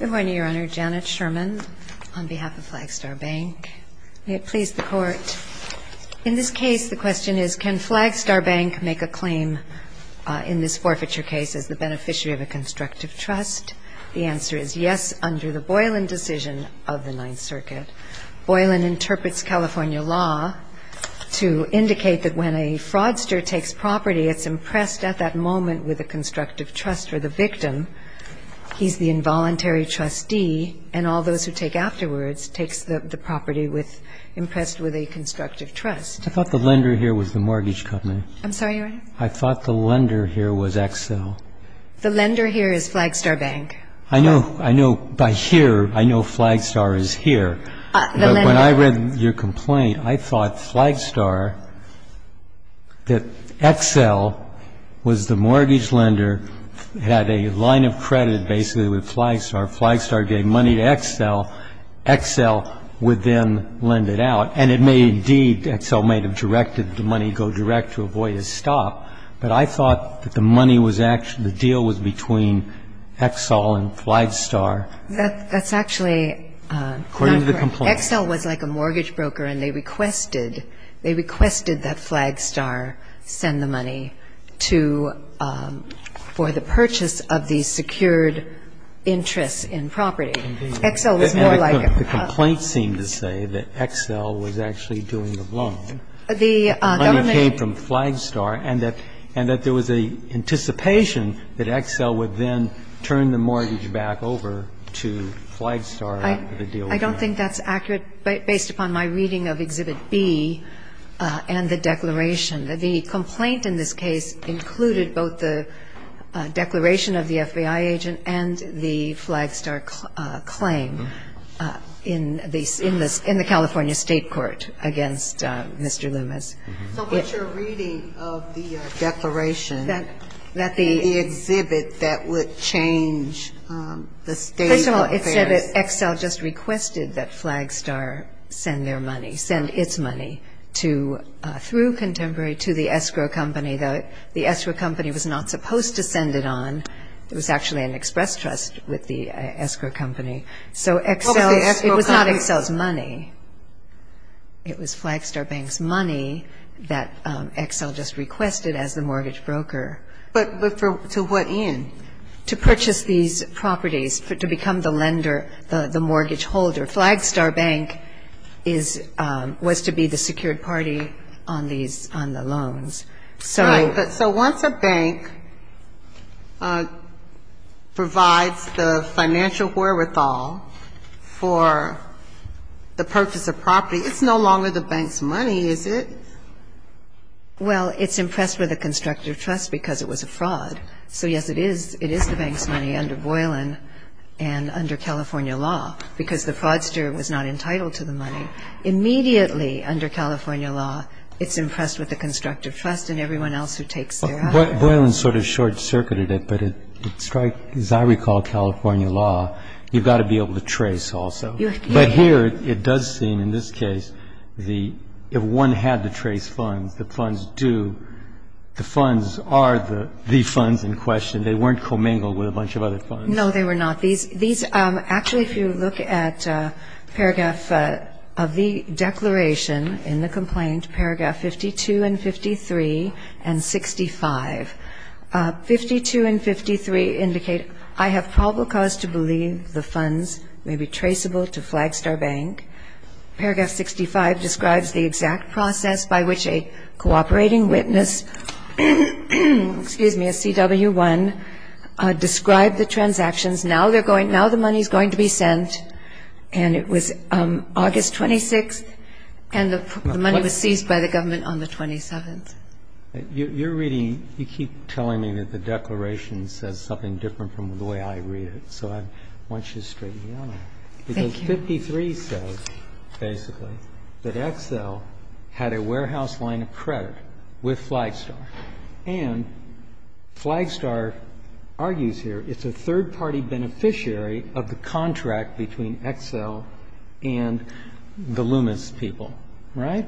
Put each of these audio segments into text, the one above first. May it please the Court. In this case, the question is, can Flagstar Bank make a claim in this forfeiture case as the beneficiary of a constructive trust? The answer is yes, under the Boylan decision of the Ninth Circuit. Boylan interprets California law to indicate that when a fraudster takes property, it's impressed at that moment with a constructive trust for the victim. He's the involuntary trustee, and all those who take afterwards takes the property impressed with a constructive trust. I thought the lender here was the mortgage company. I'm sorry, your Honor? I thought the lender here was Excel. The lender here is Flagstar Bank. I know by here, I know Flagstar is here. But when I read your complaint, I thought Flagstar, that Excel was the mortgage lender, had a line of credit basically with Flagstar. Flagstar gave money to Excel. Excel would then lend it out. And it may indeed, Excel may have directed the money go direct to avoid a stop. But I thought that the money was actually, the deal was between Excel and Flagstar. That's actually not correct. According to the complaint. Excel was like a mortgage broker, and they requested, they requested that Flagstar send the money to, for the purchase of the secured interests in property. Excel was more like a... The complaint seemed to say that Excel was actually doing the blowing. The government... And that there was an anticipation that Excel would then turn the mortgage back over to Flagstar. I don't think that's accurate based upon my reading of Exhibit B and the declaration. The complaint in this case included both the declaration of the FBI agent and the Flagstar claim in the California State Court against Mr. Loomis. So what's your reading of the declaration, the exhibit that would change the state of affairs? First of all, it said that Excel just requested that Flagstar send their money, send its money through Contemporary to the escrow company. The escrow company was not supposed to send it on. It was actually an express trust with the escrow company. So Excel, it was not Excel's money. It was Flagstar Bank's money that Excel just requested as the mortgage broker. But to what end? To purchase these properties, to become the lender, the mortgage holder. Flagstar Bank was to be the secured party on these, on the loans. So once a bank provides the financial wherewithal for the purchase of property, it's no longer the bank's money, is it? Well, it's impressed with a constructive trust because it was a fraud. So, yes, it is the bank's money under Boylan and under California law because the fraudster was not entitled to the money. But immediately under California law, it's impressed with a constructive trust in everyone else who takes their assets. Boylan sort of short-circuited it, but it strikes, as I recall, California law, you've got to be able to trace also. But here it does seem, in this case, if one had to trace funds, the funds do, the funds are the funds in question. They weren't commingled with a bunch of other funds. No, they were not. Actually, if you look at paragraph of the declaration in the complaint, paragraph 52 and 53 and 65. 52 and 53 indicate, I have probable cause to believe the funds may be traceable to Flagstar Bank. Paragraph 65 describes the exact process by which a cooperating witness, excuse me, a CW1, described the transactions. Now they're going, now the money's going to be sent. And it was August 26th, and the money was seized by the government on the 27th. You're reading, you keep telling me that the declaration says something different from the way I read it. So I want you to straighten me out on that. Thank you. Because 53 says, basically, that Excel had a warehouse line of credit with Flagstar. And Flagstar argues here it's a third-party beneficiary of the contract between Excel and the Loomis people. Right?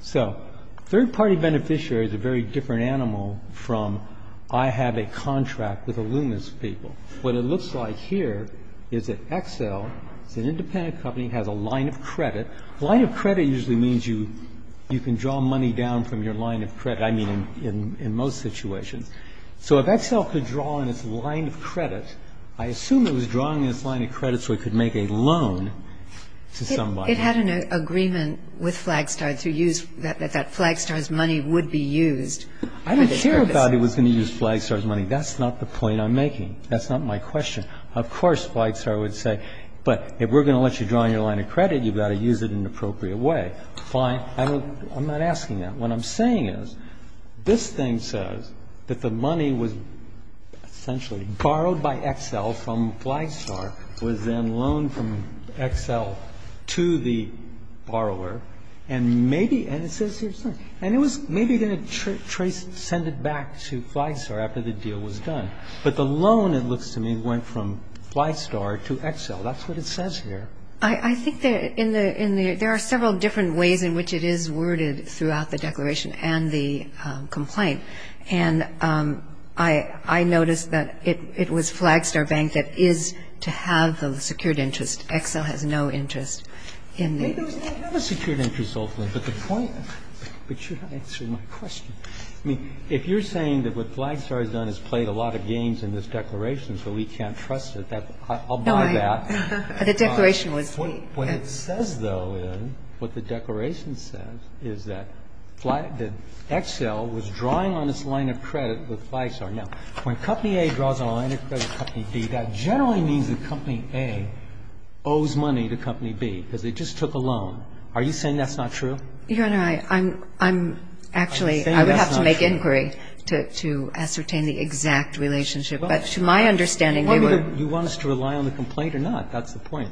So third-party beneficiary is a very different animal from I have a contract with the Loomis people. What it looks like here is that Excel is an independent company, has a line of credit. Line of credit usually means you can draw money down from your line of credit, I mean, in most situations. So if Excel could draw in its line of credit, I assume it was drawing in its line of credit so it could make a loan to somebody. It had an agreement with Flagstar to use, that that Flagstar's money would be used for this purpose. I don't care about it was going to use Flagstar's money. That's not the point I'm making. That's not my question. Of course, Flagstar would say, but if we're going to let you draw in your line of credit, you've got to use it in an appropriate way. Fine. I'm not asking that. What I'm saying is, this thing says that the money was essentially borrowed by Excel from Flagstar, was then loaned from Excel to the borrower, and maybe, and it says here, and it was maybe going to send it back to Flagstar after the deal was done. But the loan, it looks to me, went from Flagstar to Excel. That's what it says here. I think there are several different ways in which it is worded throughout the declaration and the complaint. And I noticed that it was Flagstar Bank that is to have the secured interest. Excel has no interest in the loan. They do have a secured interest, ultimately, but the point, but you're not answering my question. I mean, if you're saying that what Flagstar has done is played a lot of games in this declaration, so we can't trust it, I'll buy that. No, the declaration was me. What it says, though, is, what the declaration says, is that Excel was drawing on its line of credit with Flagstar. Now, when Company A draws on a line of credit with Company B, that generally means that Company A owes money to Company B because they just took a loan. Are you saying that's not true? Your Honor, I'm actually. I would have to make inquiry to ascertain the exact relationship. But to my understanding, they were. Do you want us to rely on the complaint or not? That's the point.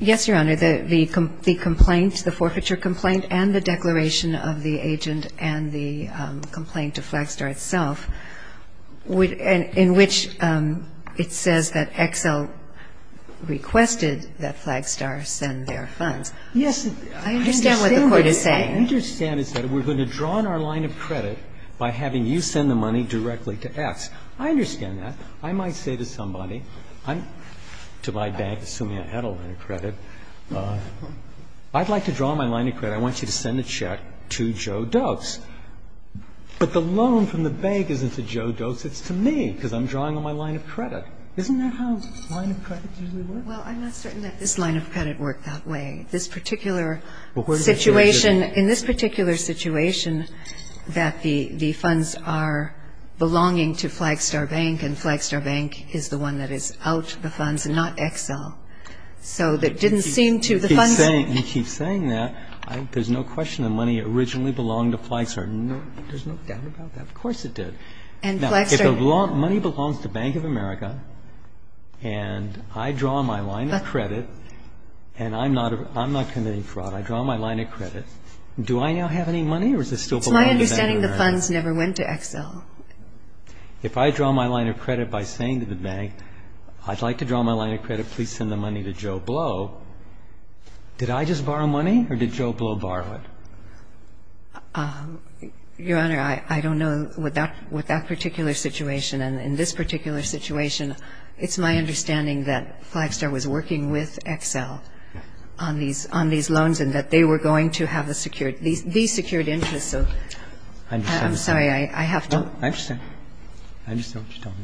Yes, Your Honor. The complaint, the forfeiture complaint and the declaration of the agent and the complaint to Flagstar itself, in which it says that Excel requested that Flagstar send their funds. Yes. I understand what the Court is saying. I understand it's that we're going to draw on our line of credit by having you send the money directly to X. I understand that. I might say to somebody, to my bank, assuming I had a line of credit, I'd like to draw on my line of credit. I want you to send a check to Joe Dose. But the loan from the bank isn't to Joe Dose. It's to me because I'm drawing on my line of credit. Isn't that how line of credit usually works? Well, I'm not certain that this line of credit worked that way. This particular situation, in this particular situation, that the funds are belonging to Flagstar Bank and Flagstar Bank is the one that is out the funds, not Excel. So it didn't seem to the funds. You keep saying that. There's no question the money originally belonged to Flagstar. There's no doubt about that. Of course it did. Now, if the money belongs to Bank of America and I draw my line of credit and I'm not committing fraud, I draw my line of credit, do I now have any money or is it still belonging to Bank of America? It's my understanding the funds never went to Excel. If I draw my line of credit by saying to the bank, I'd like to draw my line of credit, please send the money to Joe Blow, did I just borrow money or did Joe Blow borrow it? Your Honor, I don't know. With that particular situation and in this particular situation, it's my understanding that Flagstar was working with Excel on these loans and that they were going to have these secured interests. I understand. I'm sorry, I have to. No, I understand. I understand what you're talking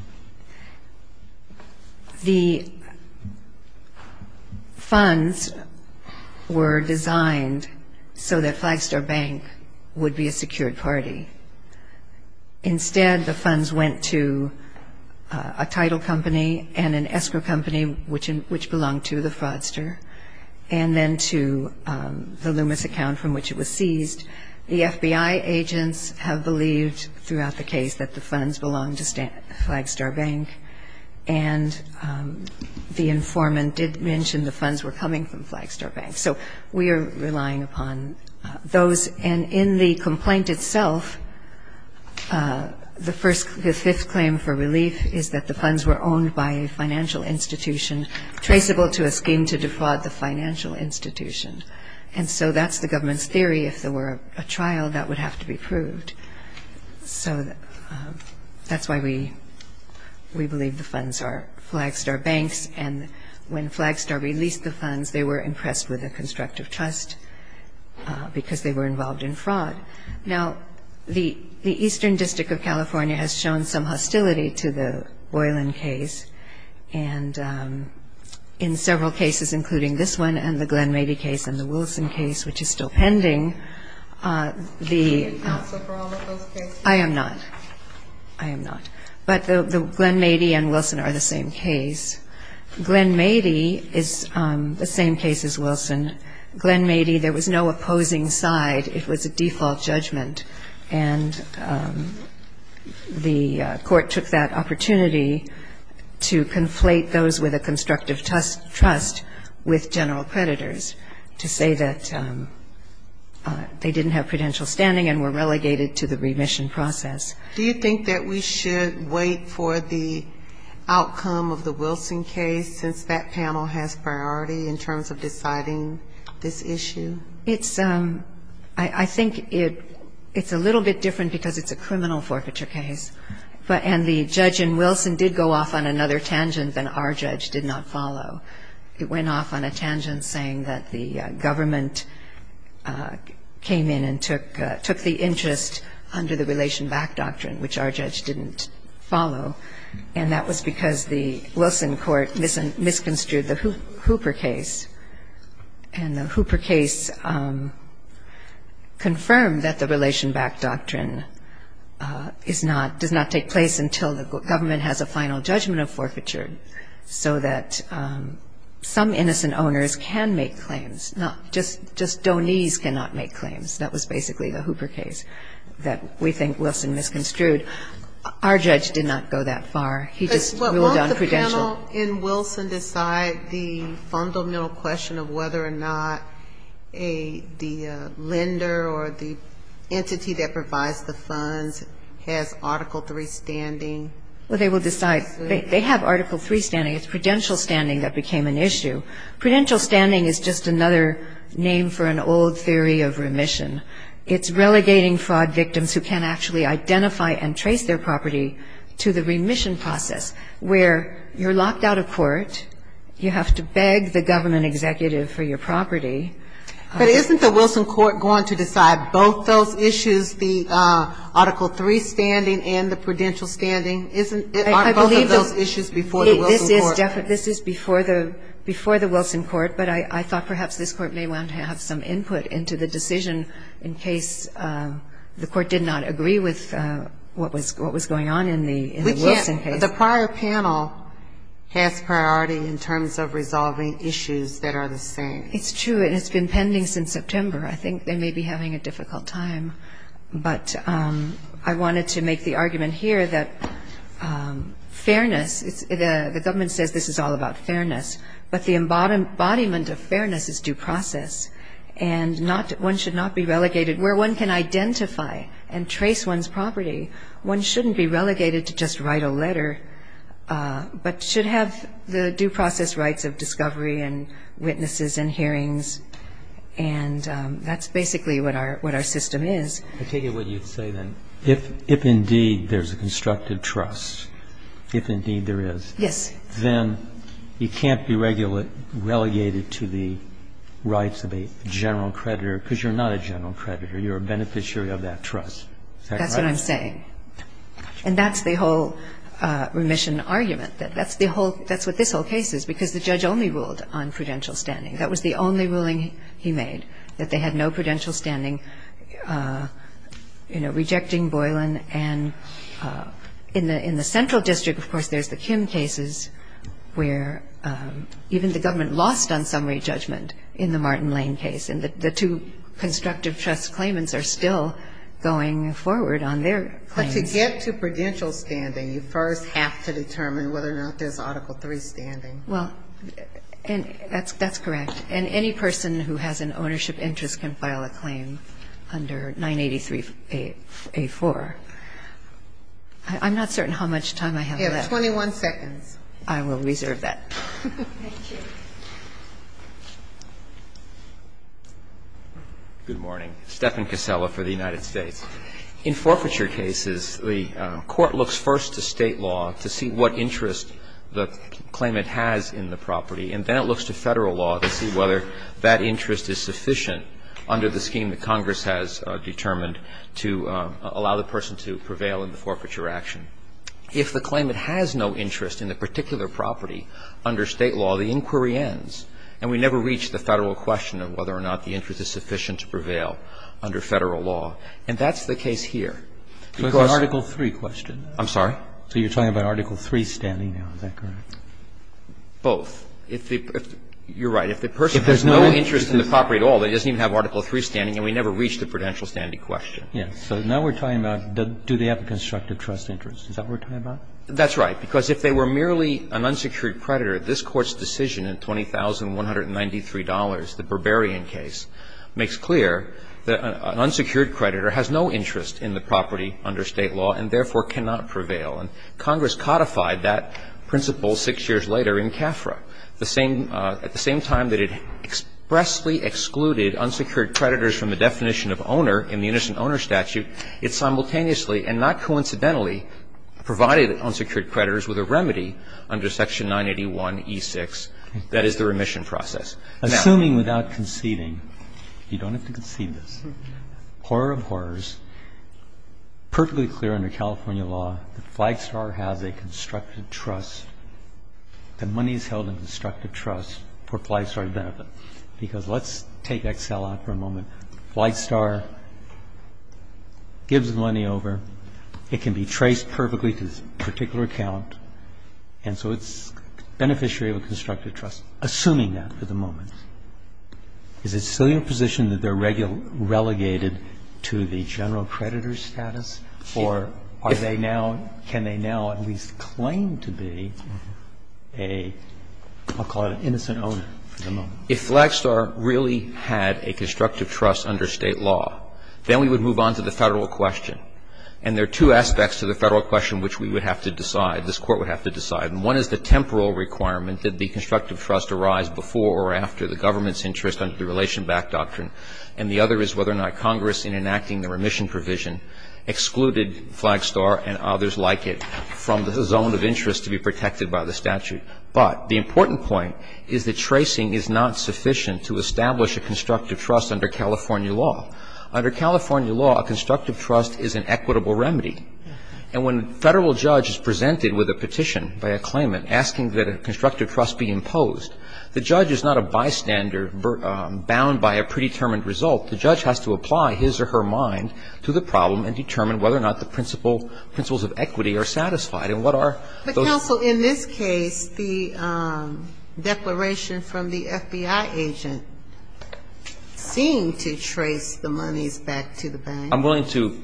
about. The funds were designed so that Flagstar Bank would be a secured party. Instead, the funds went to a title company and an escrow company which belonged to the fraudster and then to the Loomis account from which it was seized. The FBI agents have believed throughout the case that the funds belonged to Flagstar Bank and the informant did mention the funds were coming from Flagstar Bank. So we are relying upon those and in the complaint itself, the fifth claim for relief is that the funds were owned by a financial institution traceable to a scheme to defraud the financial institution. And so that's the government's theory. If there were a trial, that would have to be proved. So that's why we believe the funds are Flagstar Bank's and when Flagstar released the funds, they were impressed with the constructive trust because they were involved in fraud. Now, the Eastern District of California has shown some hostility to the Boylan case and in several cases, including this one and the Glen Mady case and the Wilson case, which is still pending, the... Are you responsible for all of those cases? I am not. I am not. But the Glen Mady and Wilson are the same case. Glen Mady is the same case as Wilson. Glen Mady, there was no opposing side. It was a default judgment and the court took that opportunity to conflate those with a constructive trust with general creditors to say that they didn't have prudential standing and were relegated to the remission process. Do you think that we should wait for the outcome of the Wilson case since that panel has priority in terms of deciding this issue? It's... I think it's a little bit different because it's a criminal forfeiture case and the judge in Wilson did go off on another tangent than our judge did not follow. It went off on a tangent saying that the government came in and took the interest under the Relation Back Doctrine, which our judge didn't follow, and that was because the Wilson court misconstrued the Hooper case. And the Hooper case confirmed that the Relation Back Doctrine is not... does not take place until the government has a final judgment of forfeiture so that some innocent owners can make claims, not just... just donees cannot make claims. That was basically the Hooper case that we think Wilson misconstrued. Our judge did not go that far. He just ruled on prudential. But won't the panel in Wilson decide the fundamental question of whether or not the lender or the entity that provides the funds has Article III standing? Well, they will decide. They have Article III standing. It's prudential standing that became an issue. Prudential standing is just another name for an old theory of remission. It's relegating fraud victims who can't actually identify and trace their property to the remission process, where you're locked out of court, you have to beg the government executive for your property. But isn't the Wilson court going to decide both those issues, the Article III standing and the prudential standing? Aren't both of those issues before the Wilson court? This is before the Wilson court, but I thought perhaps this court may want to have some input into the decision in case the court did not agree with what was going on in the Wilson case. We can't. The prior panel has priority in terms of resolving issues that are the same. It's true, and it's been pending since September. I think they may be having a difficult time. But I wanted to make the argument here that fairness, the government says this is all about fairness, but the embodiment of fairness is due process, and one should not be relegated. Where one can identify and trace one's property, one shouldn't be relegated to just write a letter, but should have the due process rights of discovery and witnesses and hearings, and that's basically what our system is. I take it what you say then, if indeed there's a constructive trust, if indeed there is, then you can't be relegated to the rights of a general creditor because you're not a general creditor. You're a beneficiary of that trust. Is that correct? That's what I'm saying. And that's the whole remission argument. That's what this whole case is because the judge only ruled on prudential standing. That was the only ruling he made, that they had no prudential standing, you know, rejecting Boylan. And in the central district, of course, there's the Kim cases where even the government lost on summary judgment in the Martin Lane case, and the two constructive trust claimants are still going forward on their claims. But to get to prudential standing, you first have to determine whether or not there's Article III standing. Well, that's correct. And any person who has an ownership interest can file a claim under 983A4. I'm not certain how much time I have left. You have 21 seconds. I will reserve that. Thank you. Good morning. Stephen Casella for the United States. In forfeiture cases, the court looks first to State law to see what interest the claimant has in the property. And then it looks to Federal law to see whether that interest is sufficient under the scheme that Congress has determined to allow the person to prevail in the forfeiture action. If the claimant has no interest in the particular property under State law, the inquiry ends, and we never reach the Federal question of whether or not the interest is sufficient to prevail under Federal law. And that's the case here. Because the Article III question. I'm sorry? So you're talking about Article III standing now. Is that correct? Both. You're right. If the person has no interest in the property at all, it doesn't even have Article III standing, and we never reach the prudential standing question. Yes. So now we're talking about do they have a constructive trust interest. Is that what we're talking about? That's right. Because if they were merely an unsecured creditor, this Court's decision in $20,193, the Berberian case, makes clear that an unsecured creditor has no interest in the property under State law and therefore cannot prevail. And Congress codified that principle six years later in CAFRA. The same at the same time that it expressly excluded unsecured creditors from the definition of owner in the innocent owner statute, it simultaneously and not coincidentally provided unsecured creditors with a remedy under Section 981e6, that is, the remission process. Assuming without conceding, you don't have to concede this, horror of horrors, perfectly clear under California law that Flagstar has a constructive trust, that money is held in constructive trust for Flagstar's benefit. Because let's take Excel out for a moment. Flagstar gives the money over. It can be traced perfectly to this particular account, and so it's beneficiary of a constructive trust. Assuming that for the moment, is it still your position that they're relegated to the general creditor status, or are they now, can they now at least claim to be a, I'll call it an innocent owner for the moment? If Flagstar really had a constructive trust under State law, then we would move on to the Federal question. And there are two aspects to the Federal question which we would have to decide, this Court would have to decide. And one is the temporal requirement that the constructive trust arise before or after the government's interest under the Relation Back Doctrine, and the other is whether or not Congress, in enacting the remission provision, excluded Flagstar and others like it from the zone of interest to be protected by the statute. But the important point is that tracing is not sufficient to establish a constructive trust under California law. Under California law, a constructive trust is an equitable remedy. And when a Federal judge is presented with a petition by a claimant asking that a constructive trust be imposed, the judge is not a bystander bound by a predetermined result. The judge has to apply his or her mind to the problem and determine whether or not the principle, principles of equity are satisfied. And what are those? But, counsel, in this case, the declaration from the FBI agent seemed to trace the monies back to the bank. I'm willing to,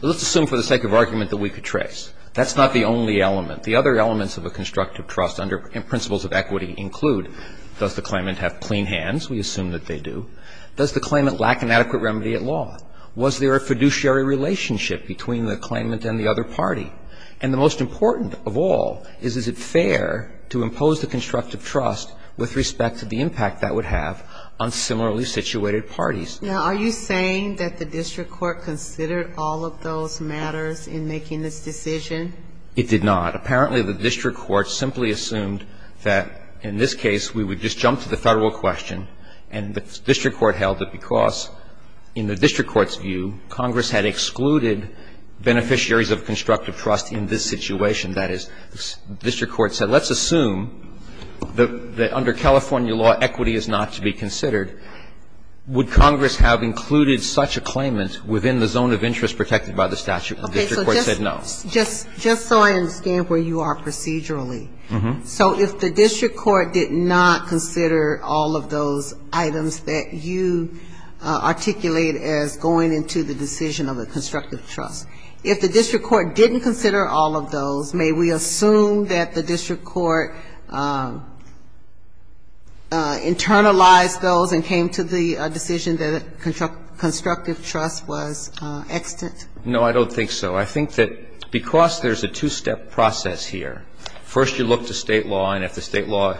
let's assume for the sake of argument that we could trace. That's not the only element. The other elements of a constructive trust under principles of equity include does the claimant have clean hands? We assume that they do. Does the claimant lack an adequate remedy at law? Was there a fiduciary relationship between the claimant and the other party? And the most important of all is, is it fair to impose the constructive trust with respect to the impact that would have on similarly situated parties? Now, are you saying that the district court considered all of those matters in making this decision? It did not. Apparently, the district court simply assumed that, in this case, we would just jump to the Federal question, and the district court held that because, in the district court's view, Congress had excluded beneficiaries of constructive trust in this situation. That is, the district court said, let's assume that under California law, equity is not to be considered. Would Congress have included such a claimant within the zone of interest protected by the statute? The district court said no. Just so I understand where you are procedurally, so if the district court did not consider all of those items that you articulate as going into the decision of a constructive trust, if the district court didn't consider all of those, may we assume that the district court internalized those and came to the decision that constructive trust was extant? No, I don't think so. I think that because there's a two-step process here, first you look to State law, and if the State law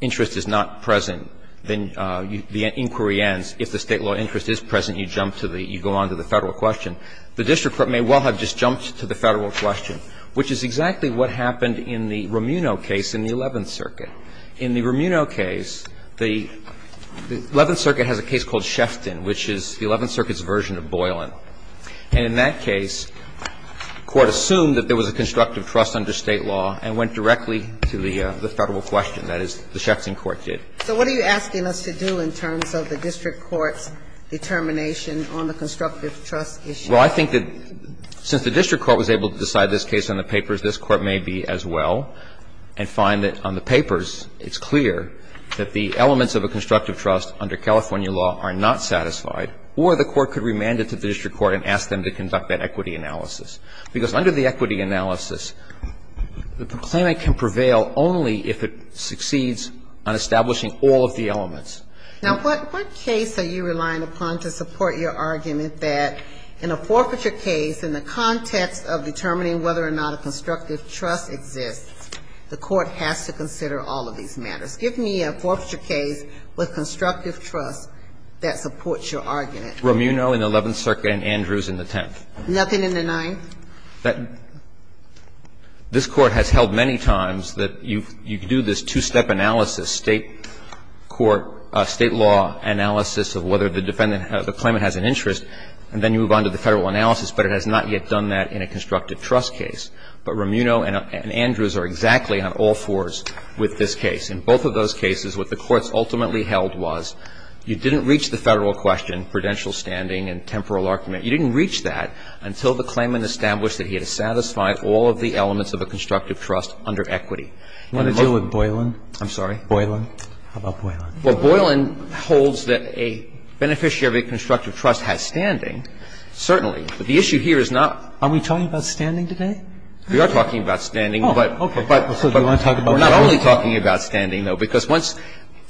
interest is not present, then the inquiry ends. If the State law interest is present, you jump to the – you go on to the Federal question. The district court may well have just jumped to the Federal question, which is exactly what happened in the Romuno case in the Eleventh Circuit. In the Romuno case, the Eleventh Circuit has a case called Shefton, which is the Eleventh Circuit's version of Boylan. And in that case, court assumed that there was a constructive trust under State law and went directly to the Federal question. That is, the Shefton court did. So what are you asking us to do in terms of the district court's determination on the constructive trust issue? Well, I think that since the district court was able to decide this case on the papers, this court may be as well and find that on the papers it's clear that the elements of a constructive trust under California law are not satisfied, or the court could remand it to the district court and ask them to conduct that equity analysis. Because under the equity analysis, the claimant can prevail only if it succeeds on establishing all of the elements. Now, what case are you relying upon to support your argument that in a forfeiture case, in the context of determining whether or not a constructive trust exists, the court has to consider all of these matters? Give me a forfeiture case with constructive trust that supports your argument. Romuno in the Eleventh Circuit and Andrews in the Tenth. Nothing in the Ninth? This Court has held many times that you do this two-step analysis, State court, State law analysis of whether the defendant, the claimant has an interest, and then you move on to the Federal analysis. But it has not yet done that in a constructive trust case. But Romuno and Andrews are exactly on all fours with this case. In both of those cases, what the courts ultimately held was you didn't reach the Federal question, prudential standing and temporal argument, you didn't reach that until the claimant established that he had to satisfy all of the elements of a constructive trust under equity. Do you want to deal with Boylan? I'm sorry? Boylan. How about Boylan? Well, Boylan holds that a beneficiary of a constructive trust has standing, certainly. But the issue here is not. Are we talking about standing today? We are talking about standing. Oh, okay. So do you want to talk about Boylan? We're not only talking about standing, though, because once.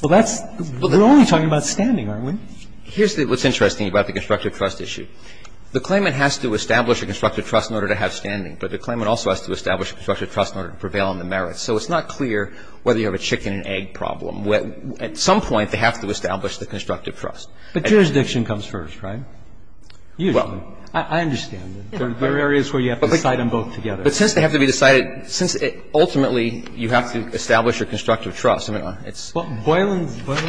Well, that's. We're only talking about standing, aren't we? Here's what's interesting about the constructive trust issue. The claimant has to establish a constructive trust in order to have standing, but the claimant also has to establish a constructive trust in order to prevail on the merits. So it's not clear whether you have a chicken and egg problem. At some point, they have to establish the constructive trust. But jurisdiction comes first, right? Usually. I understand. There are areas where you have to decide them both together. But since they have to be decided, since ultimately you have to establish a constructive trust, I mean, it's. Well, Boylan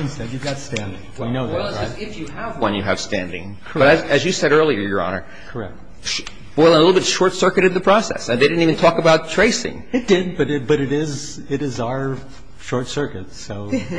said you've got standing. We know that, right? If you have one, you have standing. Correct. But as you said earlier, Your Honor. Correct. Boylan a little bit short-circuited the process. They didn't even talk about tracing. It did, but it is our short circuit. So there you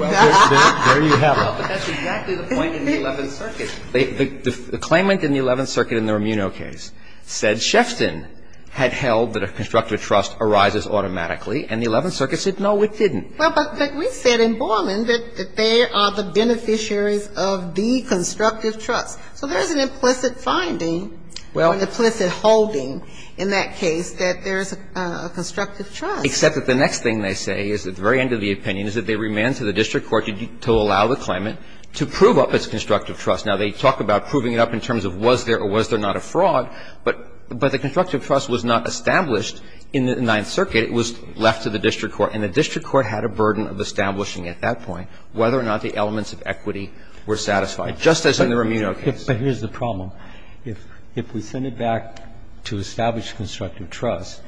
have it. Well, but that's exactly the point in the Eleventh Circuit. The claimant in the Eleventh Circuit in the Romino case said Shefton had held that a constructive trust arises automatically, and the Eleventh Circuit said, no, it didn't. Well, but we said in Boylan that they are the beneficiaries of the constructive trust. So there is an implicit finding or an implicit holding in that case that there is a constructive trust. Except that the next thing they say is at the very end of the opinion is that they remand to the district court to allow the claimant to prove up its constructive trust. Now, they talk about proving it up in terms of was there or was there not a fraud, but the constructive trust was not established in the Ninth Circuit. It was left to the district court, and the district court had a burden of establishing at that point whether or not the elements of equity were satisfied, just as in the Romino case. But here's the problem. If we send it back to establish constructive trust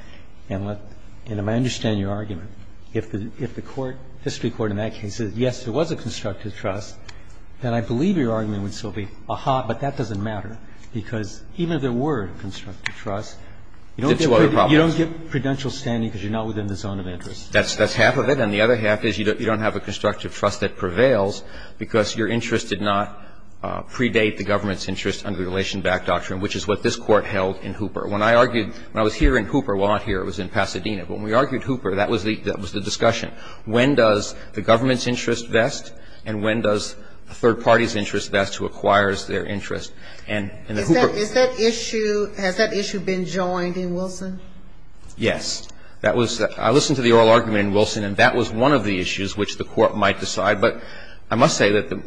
and let the – and I understand your argument. If the court, district court in that case says, yes, there was a constructive trust, then I believe your argument would still be, aha, but that doesn't matter, because even if there were a constructive trust, you don't get prudential standing because you're not within the zone of interest. That's half of it, and the other half is you don't have a constructive trust that prevails because your interest did not predate the government's interest under the relation-backed doctrine, which is what this Court held in Hooper. When I argued – when I was here in Hooper, well, not here, it was in Pasadena. But when we argued Hooper, that was the discussion. When does the government's interest vest and when does a third party's interest vest who acquires their interest? And the Hooper – Is that issue – has that issue been joined in Wilson? Yes. That was – I listened to the oral argument in Wilson, and that was one of the issues which the Court might decide. But I must say that the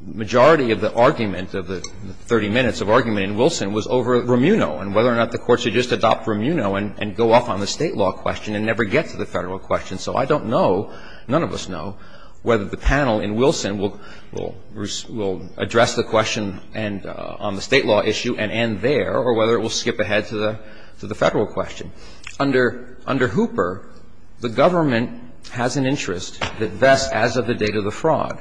majority of the argument of the 30 minutes of argument in Wilson was over Romuno and whether or not the Court should just adopt Romuno and go off on the State law question and never get to the Federal question. So I don't know, none of us know, whether the panel in Wilson will address the question and – on the State law issue and end there, or whether it will skip ahead to the Federal question. Under Hooper, the government has an interest that vests as of the date of the fraud.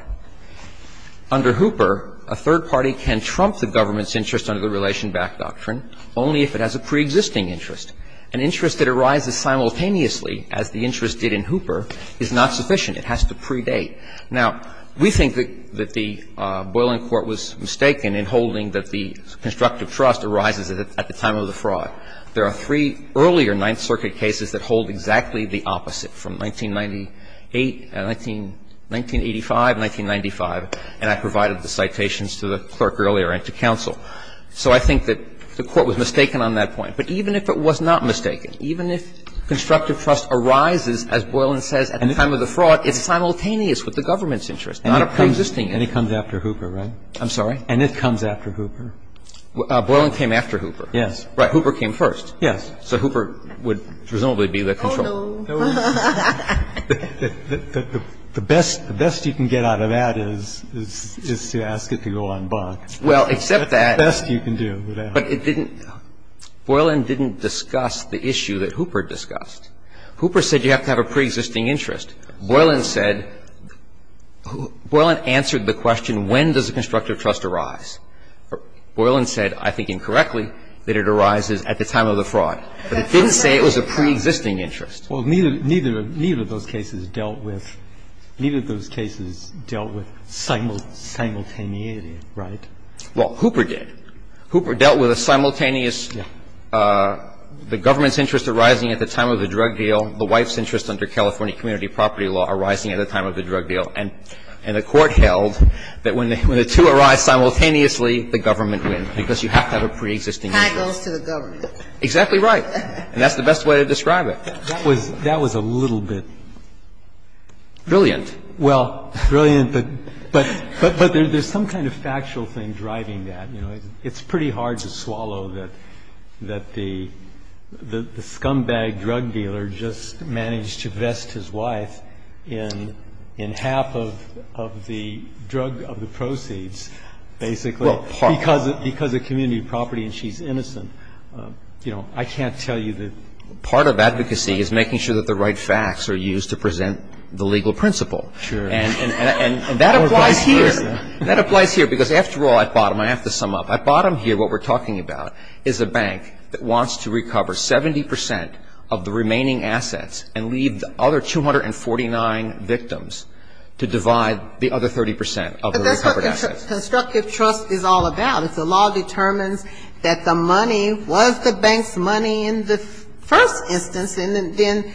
Under Hooper, a third party can trump the government's interest under the Relation Back Doctrine only if it has a preexisting interest. An interest that arises simultaneously, as the interest did in Hooper, is not sufficient. It has to predate. Now, we think that the Boiling Court was mistaken in holding that the constructive trust arises at the time of the fraud. There are three earlier Ninth Circuit cases that hold exactly the opposite, from 1998, 1985, 1995, and I provided the citations to the clerk earlier and to counsel. So I think that the Court was mistaken on that point. But even if it was not mistaken, even if constructive trust arises, as Boiling says, at the time of the fraud, it's simultaneous with the government's interest, not a preexisting interest. And it comes after Hooper, right? I'm sorry? And it comes after Hooper. Boiling came after Hooper. Yes. Right. Hooper came first. Yes. So Hooper would presumably be the control. Oh, no. The best you can get out of that is to ask it to go on block. Well, except that. The best you can do. But it didn't. Boiling didn't discuss the issue that Hooper discussed. Hooper said you have to have a preexisting interest. Boiling said, Boiling answered the question, when does a constructive trust arise? Boiling said, I think incorrectly, that it arises at the time of the fraud. But it didn't say it was a preexisting interest. Well, neither of those cases dealt with simultaneously, right? Well, Hooper did. Hooper dealt with a simultaneous, the government's interest arising at the time of the drug deal, the wife's interest under California community property law arising at the time of the drug deal. And the Court held that when the two arise simultaneously, the government wins, because you have to have a preexisting interest. That goes to the government. Exactly right. And that's the best way to describe it. That was a little bit. Brilliant. Well, brilliant, but there's some kind of factual thing driving that. It's pretty hard to swallow that the scumbag drug dealer just managed to vest his wife in half of the drug of the proceeds, basically, because of community property and she's innocent. You know, I can't tell you that. Part of advocacy is making sure that the right facts are used to present the legal principle. Sure. And that applies here. That applies here, because after all, at bottom, I have to sum up, at bottom here what we're talking about is a bank that wants to recover 70 percent of the remaining assets and leave the other 249 victims to divide the other 30 percent of the recovered assets. But that's what constructive trust is all about. If the law determines that the money was the bank's money in the first instance, then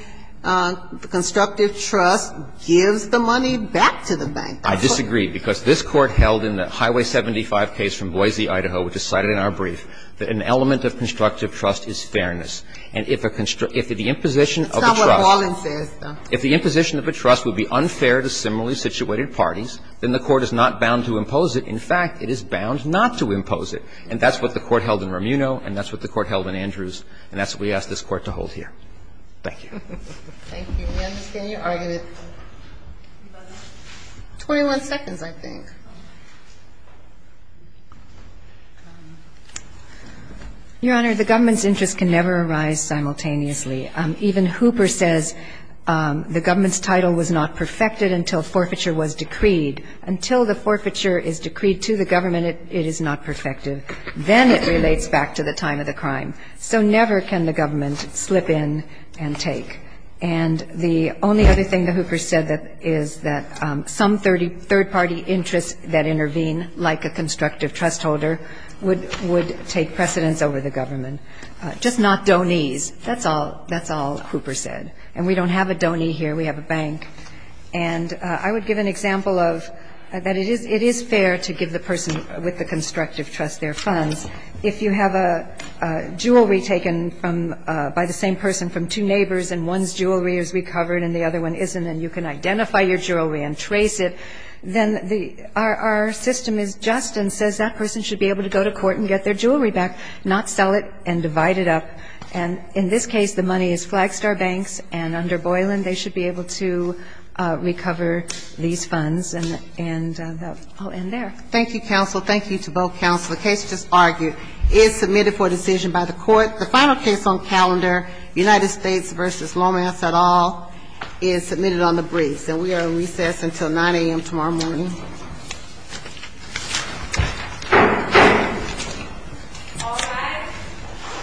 constructive trust gives the money back to the bank. I disagree, because this Court held in the Highway 75 case from Boise, Idaho, which is cited in our brief, that an element of constructive trust is fairness. And if the imposition of the trust It's not what Ballin says. If the imposition of a trust would be unfair to similarly situated parties, then the Court is not bound to impose it. In fact, it is bound not to impose it. And that's what the Court held in Romuno, and that's what the Court held in Andrews, and that's what we ask this Court to hold here. Thank you. Thank you. We understand your argument. Twenty-one seconds, I think. Your Honor, the government's interest can never arise simultaneously. Even Hooper says the government's title was not perfected until forfeiture was decreed. Until the forfeiture is decreed to the government, it is not perfected. Then it relates back to the time of the crime. So never can the government slip in and take. And the only other thing that Hooper said is that some third-party interests that intervene, like a constructive trust holder, would take precedence over the government. Just not donees. That's all Hooper said. And we don't have a donee here. We have a bank. And I would give an example of that it is fair to give the person with the constructive trust their funds. If you have a jewelry taken from by the same person from two neighbors and one's jewelry is recovered and the other one isn't and you can identify your jewelry and trace it, then our system is just and says that person should be able to go to court and get their jewelry back, not sell it and divide it up. And in this case, the money is Flagstar Banks. And under Boylan, they should be able to recover these funds. And I'll end there. Thank you, counsel. Thank you to both counsel. The case just argued is submitted for decision by the court. The final case on calendar, United States v. Lomas et al., is submitted on the briefs. And we are on recess until 9 a.m. tomorrow morning. All rise.